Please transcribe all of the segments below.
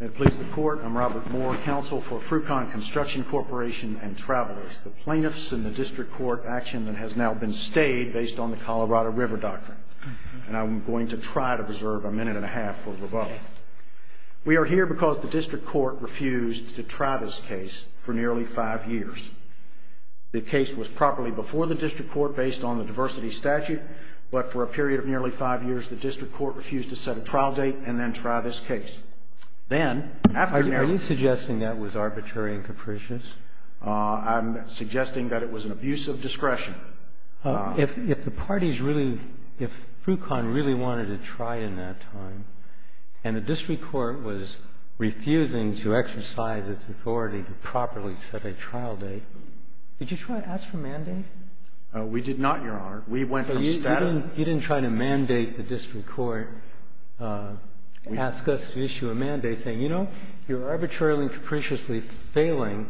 It pleases the Court, I'm Robert Moore, Counsel for Fru-Con Construction Corporation and Travelers. The plaintiffs in the District Court action that has now been stayed based on the Colorado River Doctrine. And I'm going to try to reserve a minute and a half for rebuttal. We are here because the District Court refused to try this case for nearly five years. The case was properly before the District Court based on the diversity statute, but for a period of nearly five years, the District Court refused to set a trial date and then try this case. Then, after nearly— Are you suggesting that was arbitrary and capricious? I'm suggesting that it was an abuse of discretion. If the parties really, if Fru-Con really wanted to try in that time and the District Court was refusing to exercise its authority to properly set a trial date, did you try to ask for a mandate? We did not, Your Honor. So you didn't try to mandate the District Court ask us to issue a mandate saying, you know, you're arbitrarily and capriciously failing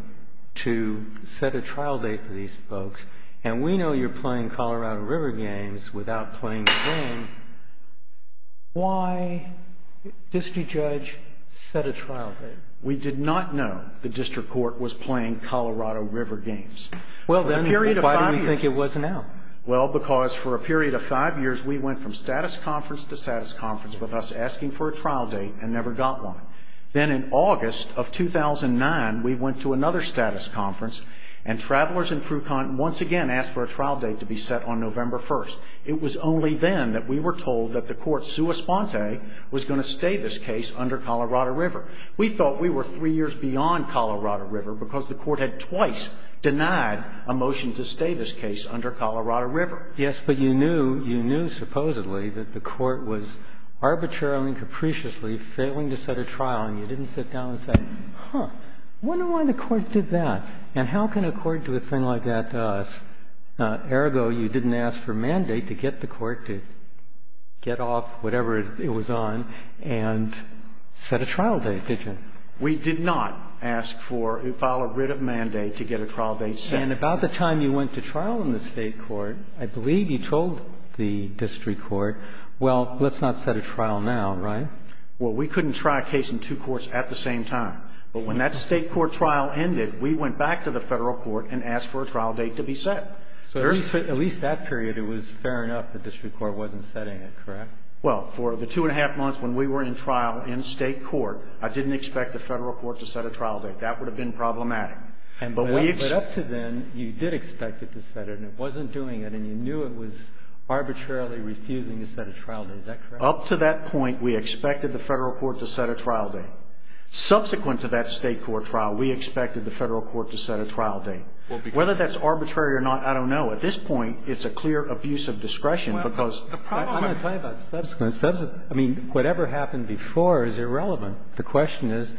to set a trial date for these folks, and we know you're playing Colorado River games without playing the game. Why, District Judge, set a trial date? We did not know the District Court was playing Colorado River games for a period of five years. Why? Well, because for a period of five years, we went from status conference to status conference with us asking for a trial date and never got one. Then, in August of 2009, we went to another status conference, and Travelers and Fru-Con once again asked for a trial date to be set on November 1st. It was only then that we were told that the court sua sponte was going to stay this case under Colorado River. We thought we were three years beyond Colorado River because the court had twice denied a motion to stay this case under Colorado River. Yes, but you knew, you knew supposedly that the court was arbitrarily and capriciously failing to set a trial, and you didn't sit down and say, huh, I wonder why the court did that, and how can a court do a thing like that to us? Ergo, you didn't ask for a mandate to get the court to get off whatever it was on and set a trial date, did you? We did not ask for or file a writ of mandate to get a trial date set. And about the time you went to trial in the State court, I believe you told the District Court, well, let's not set a trial now, right? Well, we couldn't try a case in two courts at the same time. But when that State court trial ended, we went back to the Federal court and asked for a trial date to be set. So at least that period, it was fair enough the District Court wasn't setting it, correct? Well, for the two and a half months when we were in trial in State court, I didn't expect the Federal court to set a trial date. That would have been problematic. But up to then, you did expect it to set it, and it wasn't doing it, and you knew it was arbitrarily refusing to set a trial date. Is that correct? Up to that point, we expected the Federal court to set a trial date. Subsequent to that State court trial, we expected the Federal court to set a trial date. Whether that's arbitrary or not, I don't know. At this point, it's a clear abuse of discretion, because the problem of the court I'm not talking about subsequent. I mean, whatever happened before is irrelevant. The question is,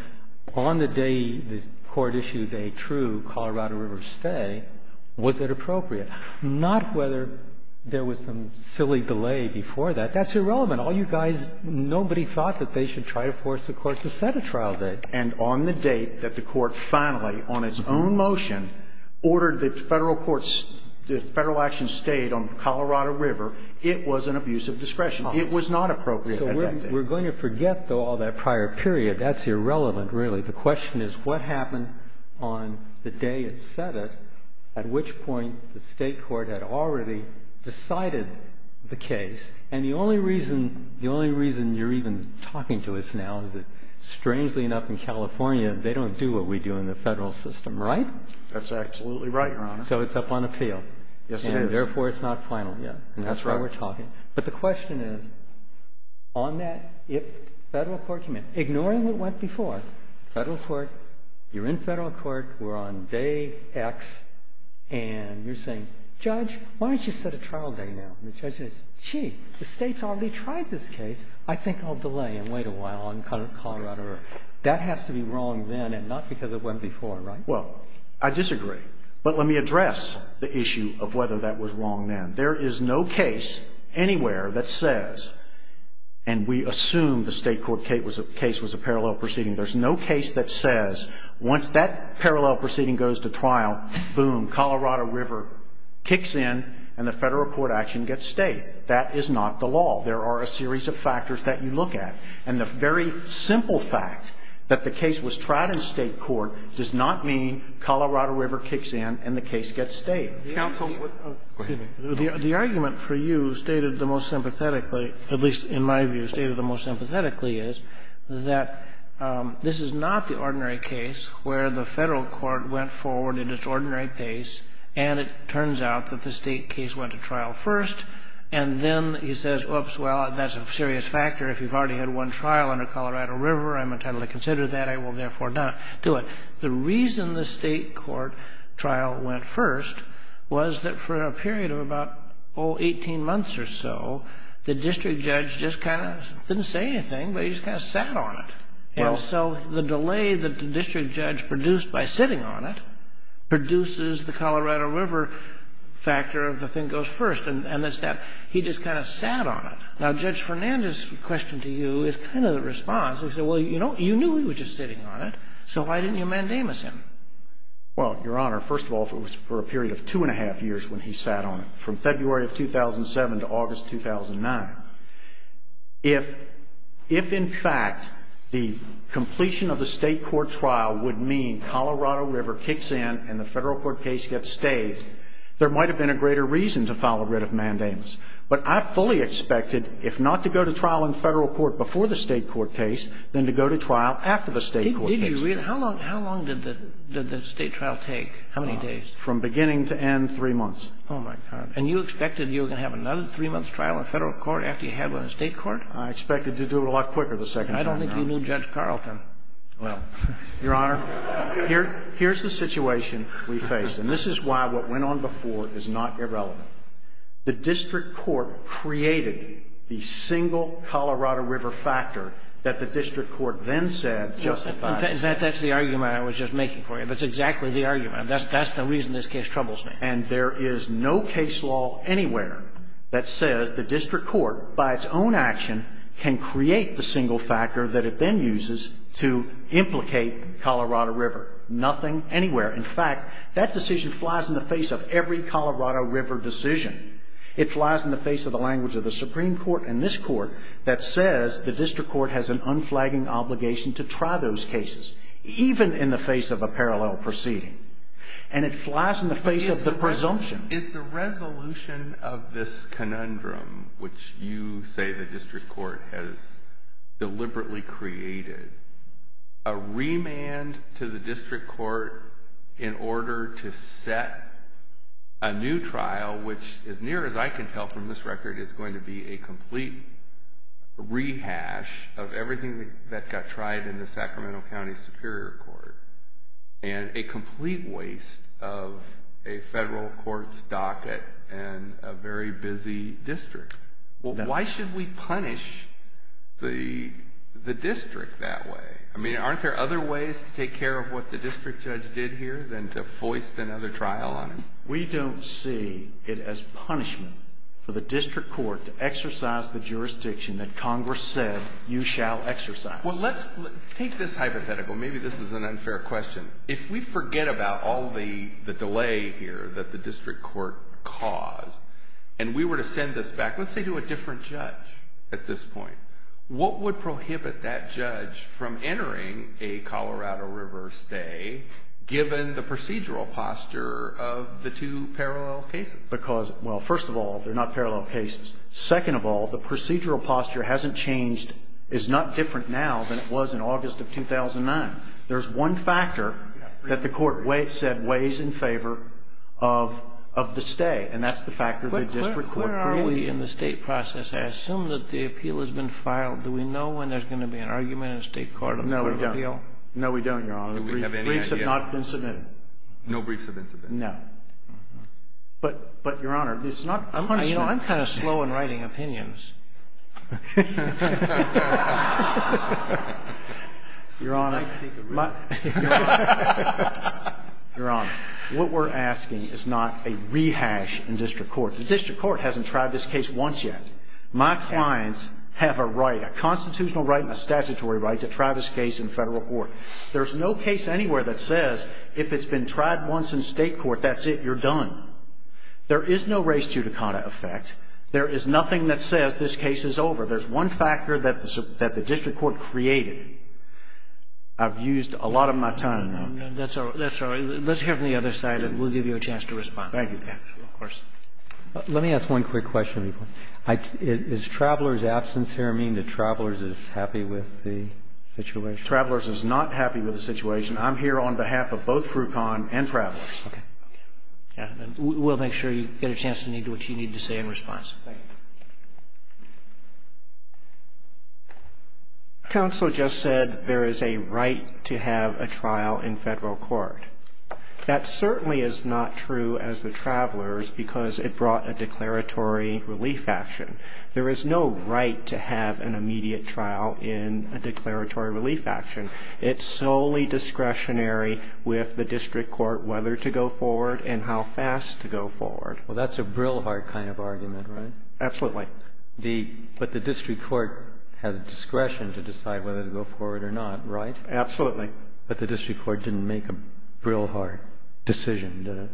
on the day the court issued a true Colorado River stay, was it appropriate? Not whether there was some silly delay before that. That's irrelevant. All you guys, nobody thought that they should try to force the court to set a trial date. And on the date that the court finally, on its own motion, ordered the Federal court's Federal action stayed on Colorado River, it was an abuse of discretion. It was not appropriate at that date. So we're going to forget, though, all that prior period. That's irrelevant, really. The question is what happened on the day it set it, at which point the State court had already decided the case. And the only reason you're even talking to us now is that, strangely enough, in California, they don't do what we do in the Federal system, right? That's absolutely right, Your Honor. So it's up on appeal. Yes, it is. And therefore, it's not final yet. That's right. And that's why we're talking. But the question is, on that, if Federal court came in, ignoring what went before, Federal court, you're in Federal court, we're on day X, and you're saying, Judge, why don't you set a trial date now? And the judge says, gee, the State's already tried this case. I think I'll delay and wait a while on Colorado River. That has to be wrong then and not because it went before, right? Well, I disagree. But let me address the issue of whether that was wrong then. There is no case anywhere that says, and we assume the State court case was a parallel proceeding. There's no case that says, once that parallel proceeding goes to trial, boom, Colorado River kicks in and the Federal court action gets stayed. That is not the law. There are a series of factors that you look at. And the very simple fact that the case was tried in State court does not mean Colorado River kicks in and the case gets stayed. The argument for you, stated the most sympathetically, at least in my view, stated the most sympathetically, is that this is not the ordinary case where the Federal court went forward at its ordinary pace, and it turns out that the State case went to trial first. And then he says, oops, well, that's a serious factor. If you've already had one trial under Colorado River, I'm entitled to consider that. I will therefore not do it. The reason the State court trial went first was that for a period of about, oh, 18 months or so, the district judge just kind of didn't say anything, but he just kind of sat on it. And so the delay that the district judge produced by sitting on it produces the Colorado River factor of the thing goes first, and that's that. He just kind of sat on it. Now, Judge Fernandez's question to you is kind of the response. He said, well, you know, you knew he was just sitting on it, so why didn't you mandamus him? Well, Your Honor, first of all, for a period of two and a half years when he sat on it, 2007 to August 2009, if in fact the completion of the State court trial would mean Colorado River kicks in and the Federal court case gets staged, there might have been a greater reason to file a writ of mandamus. But I fully expected, if not to go to trial in Federal court before the State court case, then to go to trial after the State court case. Did you really? How long did the State trial take? How many days? From beginning to end, three months. Oh, my God. And you expected you were going to have another three-month trial in Federal court after you had one in State court? I expected to do it a lot quicker the second time around. I don't think you knew Judge Carlton well. Your Honor, here's the situation we face, and this is why what went on before is not irrelevant. The district court created the single Colorado River factor that the district court then said justified. That's the argument I was just making for you. That's exactly the argument. That's the reason this case troubles me. And there is no case law anywhere that says the district court, by its own action, can create the single factor that it then uses to implicate Colorado River. Nothing anywhere. In fact, that decision flies in the face of every Colorado River decision. It flies in the face of the language of the Supreme Court and this Court that says the district court has an unflagging obligation to try those cases, even in the face of a parallel proceeding. And it flies in the face of the presumption. Is the resolution of this conundrum, which you say the district court has deliberately created, a remand to the district court in order to set a new trial, which, as near as I can tell from this record, is going to be a complete rehash of everything that got tried in the Sacramento County Superior Court? And a complete waste of a federal court's docket and a very busy district. Why should we punish the district that way? I mean, aren't there other ways to take care of what the district judge did here than to foist another trial on him? We don't see it as punishment for the district court to exercise the jurisdiction that Congress said you shall exercise. Well, let's take this hypothetical. Maybe this is an unfair question. If we forget about all the delay here that the district court caused and we were to send this back, let's say to a different judge at this point, what would prohibit that judge from entering a Colorado River stay given the procedural posture of the two parallel cases? Because, well, first of all, they're not parallel cases. Second of all, the procedural posture hasn't changed, is not different now than it was in August of 2009. There's one factor that the court said weighs in favor of the stay, and that's the factor the district court brings. But where are we in the state process? I assume that the appeal has been filed. Do we know when there's going to be an argument in the state court on the court of appeal? No, we don't. No, we don't, Your Honor. Do we have any idea? Briefs have not been submitted. No briefs have been submitted? No. But, Your Honor, it's not punishment. You know, I'm kind of slow in writing opinions. Your Honor, what we're asking is not a rehash in district court. The district court hasn't tried this case once yet. My clients have a right, a constitutional right and a statutory right, to try this case in federal court. There's no case anywhere that says if it's been tried once in state court, that's it, you're done. There is no res judicata effect. There is nothing that says this case is over. There's one factor that the district court created. I've used a lot of my time, Your Honor. That's all right. Let's hear from the other side, and we'll give you a chance to respond. Thank you, Your Honor. Of course. Let me ask one quick question. Does traveler's absence here mean that traveler's is happy with the situation? Traveler's is not happy with the situation. I'm here on behalf of both CRUCON and traveler's. Okay. We'll make sure you get a chance to say what you need to say in response. Thank you. Counsel just said there is a right to have a trial in federal court. That certainly is not true as the traveler's because it brought a declaratory relief action. There is no right to have an immediate trial in a declaratory relief action. It's solely discretionary with the district court whether to go forward and how fast to go forward. Well, that's a Brillhart kind of argument, right? Absolutely. But the district court has discretion to decide whether to go forward or not, right? Absolutely. But the district court didn't make a Brillhart decision, did it?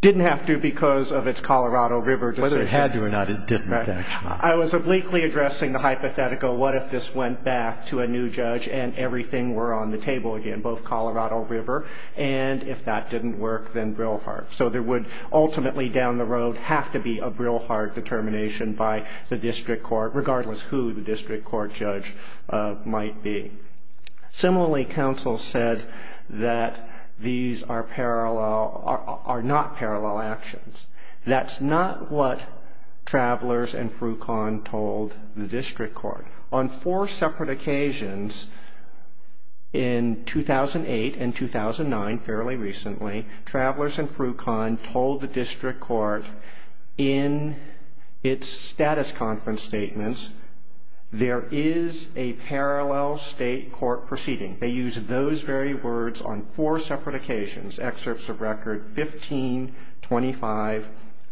Didn't have to because of its Colorado River decision. Whether it had to or not, it didn't, actually. I was obliquely addressing the hypothetical what if this went back to a new judge and everything were on the table again, both Colorado River and if that didn't work, then Brillhart. So there would ultimately down the road have to be a Brillhart determination by the district court, regardless who the district court judge might be. Similarly, counsel said that these are not parallel actions. That's not what Travelers and Frucon told the district court. On four separate occasions in 2008 and 2009, fairly recently, Travelers and Frucon told the district court in its status conference statements, there is a parallel state court proceeding. They use those very words on four separate occasions, excerpts of record 15, 25,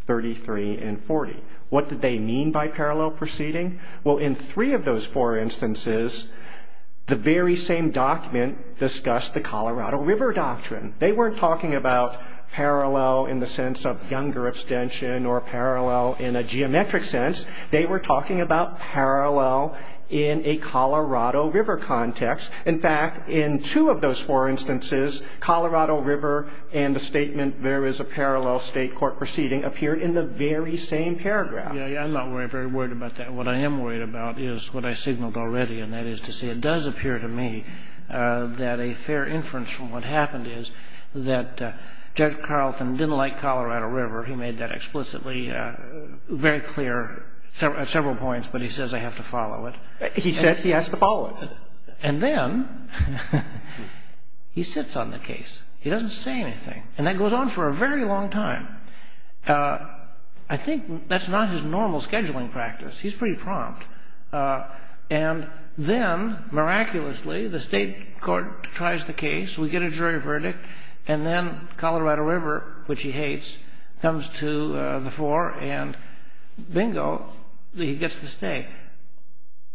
33, and 40. What did they mean by parallel proceeding? Well, in three of those four instances, the very same document discussed the Colorado River doctrine. They weren't talking about parallel in the sense of younger abstention or parallel in a geometric sense. They were talking about parallel in a Colorado River context. In fact, in two of those four instances, Colorado River and the statement there is a parallel state court proceeding appeared in the very same paragraph. I'm not very worried about that. What I am worried about is what I signaled already, and that is to say it does appear to me that a fair inference from what happened is that Judge Carlton didn't like Colorado River. He made that explicitly very clear at several points, but he says I have to follow it. He said he has to follow it. And then he sits on the case. He doesn't say anything. And that goes on for a very long time. I think that's not his normal scheduling practice. He's pretty prompt. And then, miraculously, the state court tries the case. We get a jury verdict. And then Colorado River, which he hates, comes to the fore, and bingo, he gets to stay.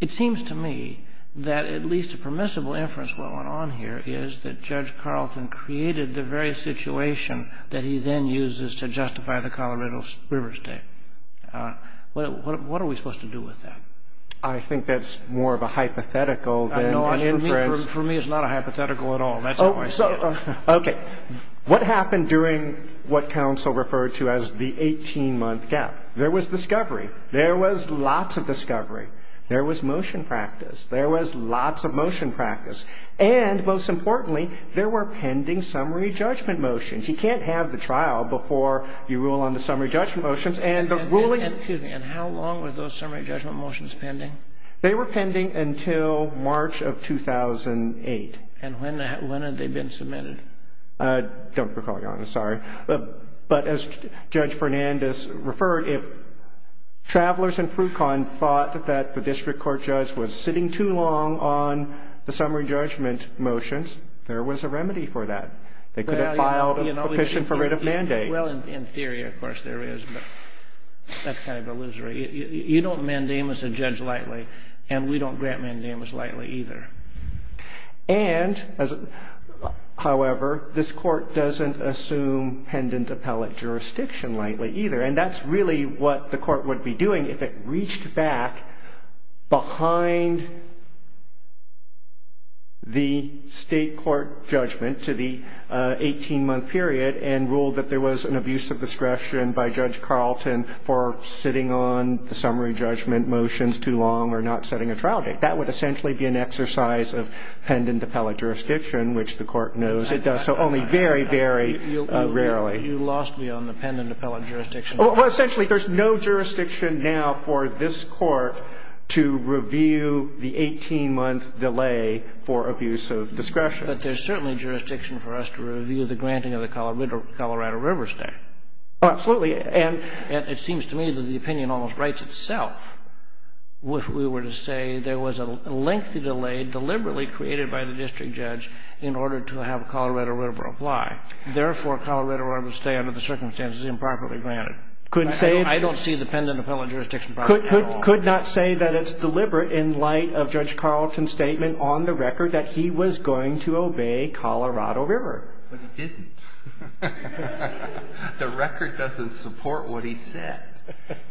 It seems to me that at least a permissible inference going on here is that Judge Carlton created the very situation that he then uses to justify the Colorado River stay. What are we supposed to do with that? I think that's more of a hypothetical than just a reference. For me, it's not a hypothetical at all. That's how I see it. Okay. What happened during what counsel referred to as the 18-month gap? There was discovery. There was lots of discovery. There was motion practice. There was lots of motion practice. And, most importantly, there were pending summary judgment motions. You can't have the trial before you rule on the summary judgment motions. And the ruling — Excuse me. And how long were those summary judgment motions pending? They were pending until March of 2008. And when had they been submitted? I don't recall, Your Honor. Sorry. But as Judge Fernandez referred, if travelers in Frucon thought that the district court judge was sitting too long on the summary judgment motions, there was a remedy for that. They could have filed a petition for writ of mandate. Well, in theory, of course, there is, but that's kind of illusory. You don't mandamus a judge lightly, and we don't grant mandamus lightly either. And, however, this court doesn't assume pendant appellate jurisdiction lightly either, and that's really what the court would be doing if it reached back behind the state court judgment to the 18-month period and ruled that there was an abuse of discretion by Judge Carlton for sitting on the summary judgment motions too long or not setting a trial date. That would essentially be an exercise of pendant appellate jurisdiction, which the court knows it does so only very, very rarely. You lost me on the pendant appellate jurisdiction. Well, essentially, there's no jurisdiction now for this court to review the 18-month delay for abuse of discretion. But there's certainly jurisdiction for us to review the granting of the Colorado River State. Absolutely. And it seems to me that the opinion almost writes itself. If we were to say there was a lengthy delay deliberately created by the district judge in order to have Colorado River apply, therefore, Colorado River would stay under the circumstances improperly granted. I don't see the pendant appellate jurisdiction part at all. Could not say that it's deliberate in light of Judge Carlton's statement on the record that he was going to obey Colorado River. But he didn't. The record doesn't support what he said.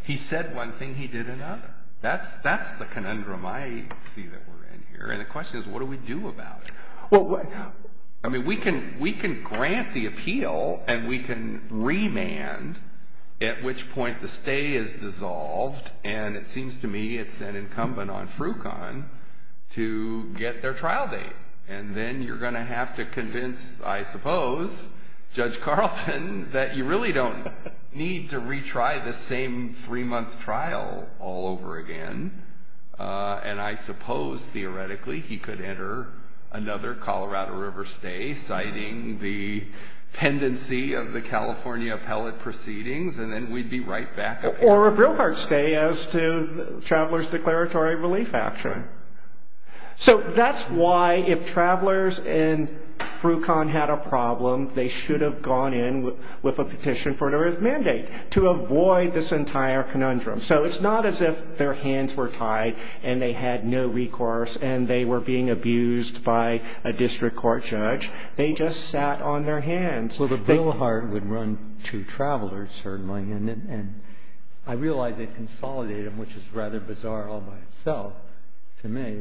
He said one thing, he did another. That's the conundrum I see that we're in here. And the question is, what do we do about it? I mean, we can grant the appeal and we can remand at which point the stay is dissolved. And it seems to me it's then incumbent on Frucon to get their trial date. And then you're going to have to convince, I suppose, Judge Carlton, that you really don't need to retry the same three-month trial all over again. And I suppose, theoretically, he could enter another Colorado River stay, citing the pendency of the California appellate proceedings, and then we'd be right back at it. Or a Brillhart stay as to Traveler's Declaratory Relief Act. So that's why if Travelers and Frucon had a problem, they should have gone in with a petition for an arrest mandate to avoid this entire conundrum. So it's not as if their hands were tied and they had no recourse and they were being abused by a district court judge. They just sat on their hands. Well, the Brillhart would run to Travelers, certainly, and I realize it consolidated them, which is rather bizarre all by itself to me,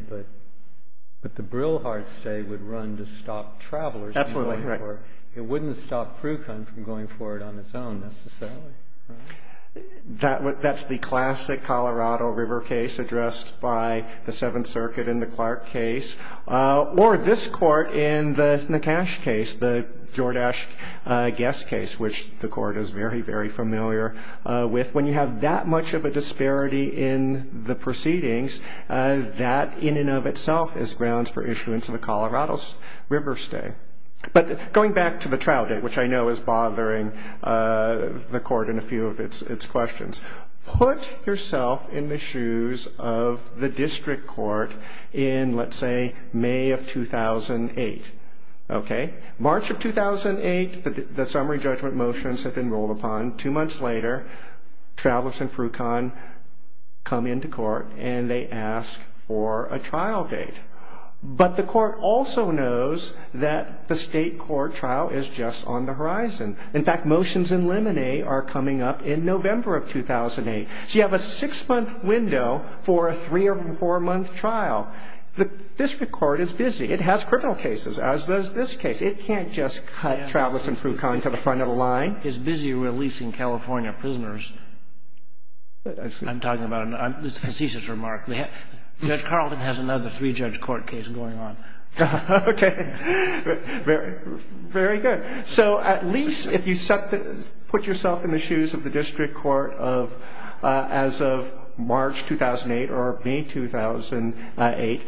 but the Brillhart stay would run to stop Travelers. Absolutely, right. It wouldn't stop Frucon from going for it on its own, necessarily. That's the classic Colorado River case addressed by the Seventh Circuit in the Clark case. Or this court in the Nakash case, the Jordache guest case, which the court is very, very familiar with. When you have that much of a disparity in the proceedings, that in and of itself is grounds for issuance of a Colorado River stay. But going back to the trial date, which I know is bothering the court in a few of its questions, put yourself in the shoes of the district court in, let's say, May of 2008. March of 2008, the summary judgment motions have been rolled upon. Two months later, Travelers and Frucon come into court and they ask for a trial date. But the court also knows that the state court trial is just on the horizon. In fact, motions in Lemonay are coming up in November of 2008. So you have a six-month window for a three- or four-month trial. The district court is busy. It has criminal cases, as does this case. It can't just cut Travelers and Frucon to the front of the line. It's busy releasing California prisoners. I'm talking about a thesis remark. Judge Carlton has another three-judge court case going on. Okay. Very good. So at least if you put yourself in the shoes of the district court as of March 2008 or May 2008,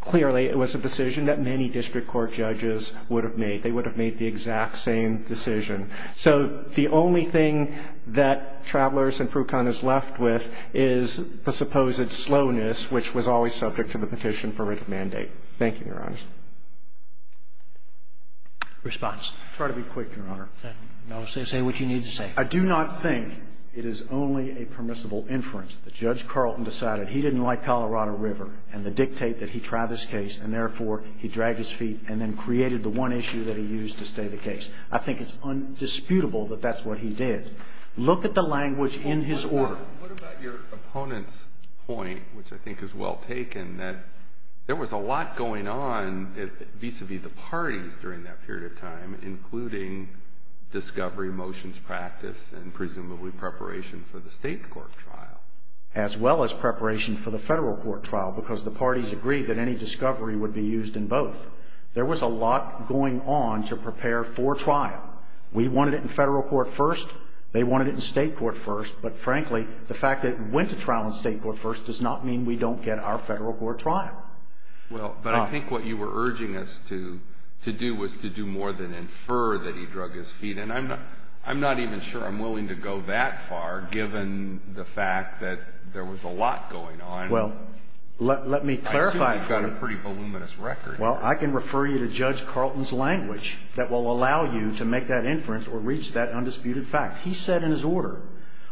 clearly it was a decision that many district court judges would have made. They would have made the exact same decision. So the only thing that Travelers and Frucon is left with is the supposed slowness, which was always subject to the petition for writ of mandate. Thank you, Your Honor. Justice? Response. I'll try to be quick, Your Honor. Say what you need to say. I do not think it is only a permissible inference that Judge Carlton decided he didn't like Colorado River and to dictate that he try this case and, therefore, he dragged his feet and then created the one issue that he used to stay the case. I think it's undisputable that that's what he did. Look at the language in his order. What about your opponent's point, which I think is well taken, that there was a lot going on vis-a-vis the parties during that period of time, including discovery, motions, practice, and presumably preparation for the state court trial? As well as preparation for the federal court trial, because the parties agreed that any discovery would be used in both. There was a lot going on to prepare for trial. We wanted it in federal court first. They wanted it in state court first. But, frankly, the fact that it went to trial in state court first does not mean we don't get our federal court trial. Well, but I think what you were urging us to do was to do more than infer that he drug his feet. And I'm not even sure I'm willing to go that far, given the fact that there was a lot going on. Well, let me clarify. I assume you've got a pretty voluminous record. Well, I can refer you to Judge Carlton's language that will allow you to make that inference or reach that undisputed fact. He said in his order,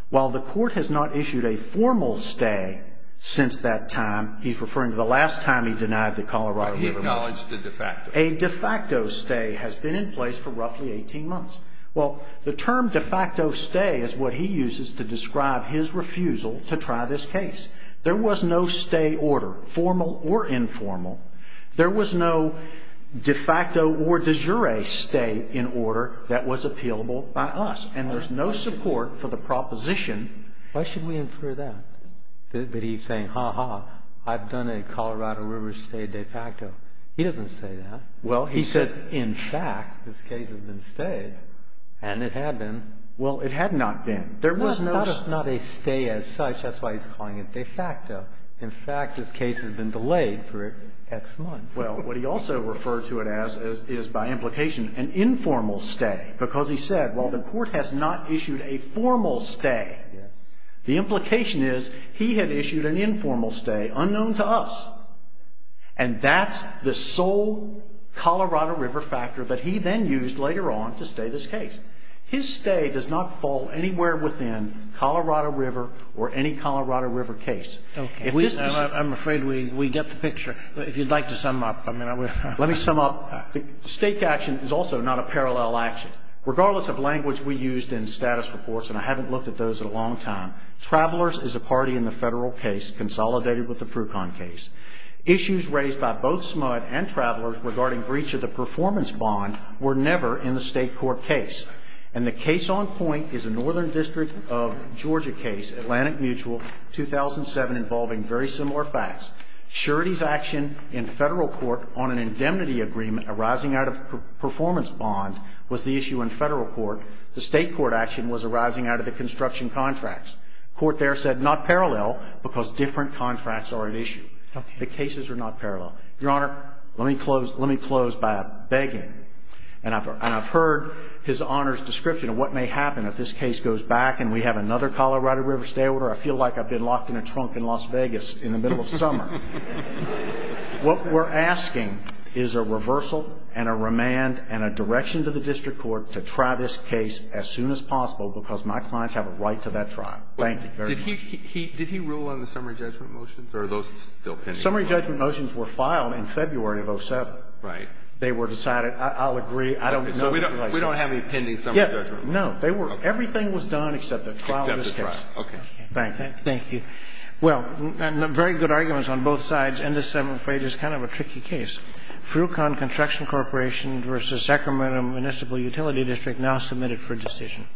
while the court has not issued a formal stay since that time, he's referring to the last time he denied the Colorado River motion. But he acknowledged the de facto. A de facto stay has been in place for roughly 18 months. Well, the term de facto stay is what he uses to describe his refusal to try this case. There was no stay order, formal or informal. There was no de facto or de jure stay in order that was appealable by us. And there's no support for the proposition. Why should we infer that? That he's saying, ha, ha, I've done a Colorado River stay de facto. He doesn't say that. Well, he says, in fact, this case has been stayed. And it had been. Well, it had not been. There was no stay. Not a stay as such. That's why he's calling it de facto. In fact, this case has been delayed for X months. Well, what he also referred to it as is, by implication, an informal stay. Because he said, well, the Court has not issued a formal stay. The implication is he had issued an informal stay unknown to us. And that's the sole Colorado River factor that he then used later on to stay this case. His stay does not fall anywhere within Colorado River or any Colorado River case. If this is the case. Okay. I'm afraid we get the picture. If you'd like to sum up, I mean, I would. Let me sum up. The state action is also not a parallel action. Regardless of language we used in status reports. And I haven't looked at those in a long time. Travelers is a party in the federal case, consolidated with the Prucon case. Issues raised by both SMUD and Travelers regarding breach of the performance bond were never in the state court case. And the case on point is a northern district of Georgia case, Atlantic Mutual, 2007, involving very similar facts. Surety's action in federal court on an indemnity agreement arising out of performance bond was the issue in federal court. The state court action was arising out of the construction contracts. Court there said not parallel because different contracts are at issue. Okay. The cases are not parallel. Your Honor, let me close by begging. And I've heard his Honor's description of what may happen if this case goes back and we have another Colorado River stay order. I feel like I've been locked in a trunk in Las Vegas in the middle of summer. What we're asking is a reversal and a remand and a direction to the district court to try this case as soon as possible because my clients have a right to that trial. Thank you very much. Did he rule on the summary judgment motions? Or are those still pending? Summary judgment motions were filed in February of 2007. Right. They were decided, I'll agree, I don't know. We don't have any pending summary judgment motions. No. Everything was done except the trial. Except the trial. Okay. Thank you. Well, very good arguments on both sides. And this, I'm afraid, is kind of a tricky case. Frucon Construction Corporation versus Sacramento Municipal Utility District now submitted for decision.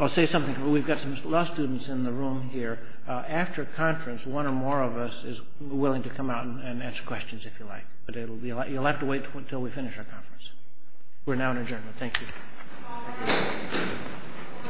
I'll say something. We've got some law students in the room here. After conference, one or more of us is willing to come out and answer questions if you like. But you'll have to wait until we finish our conference. We're now in adjournment. Thank you.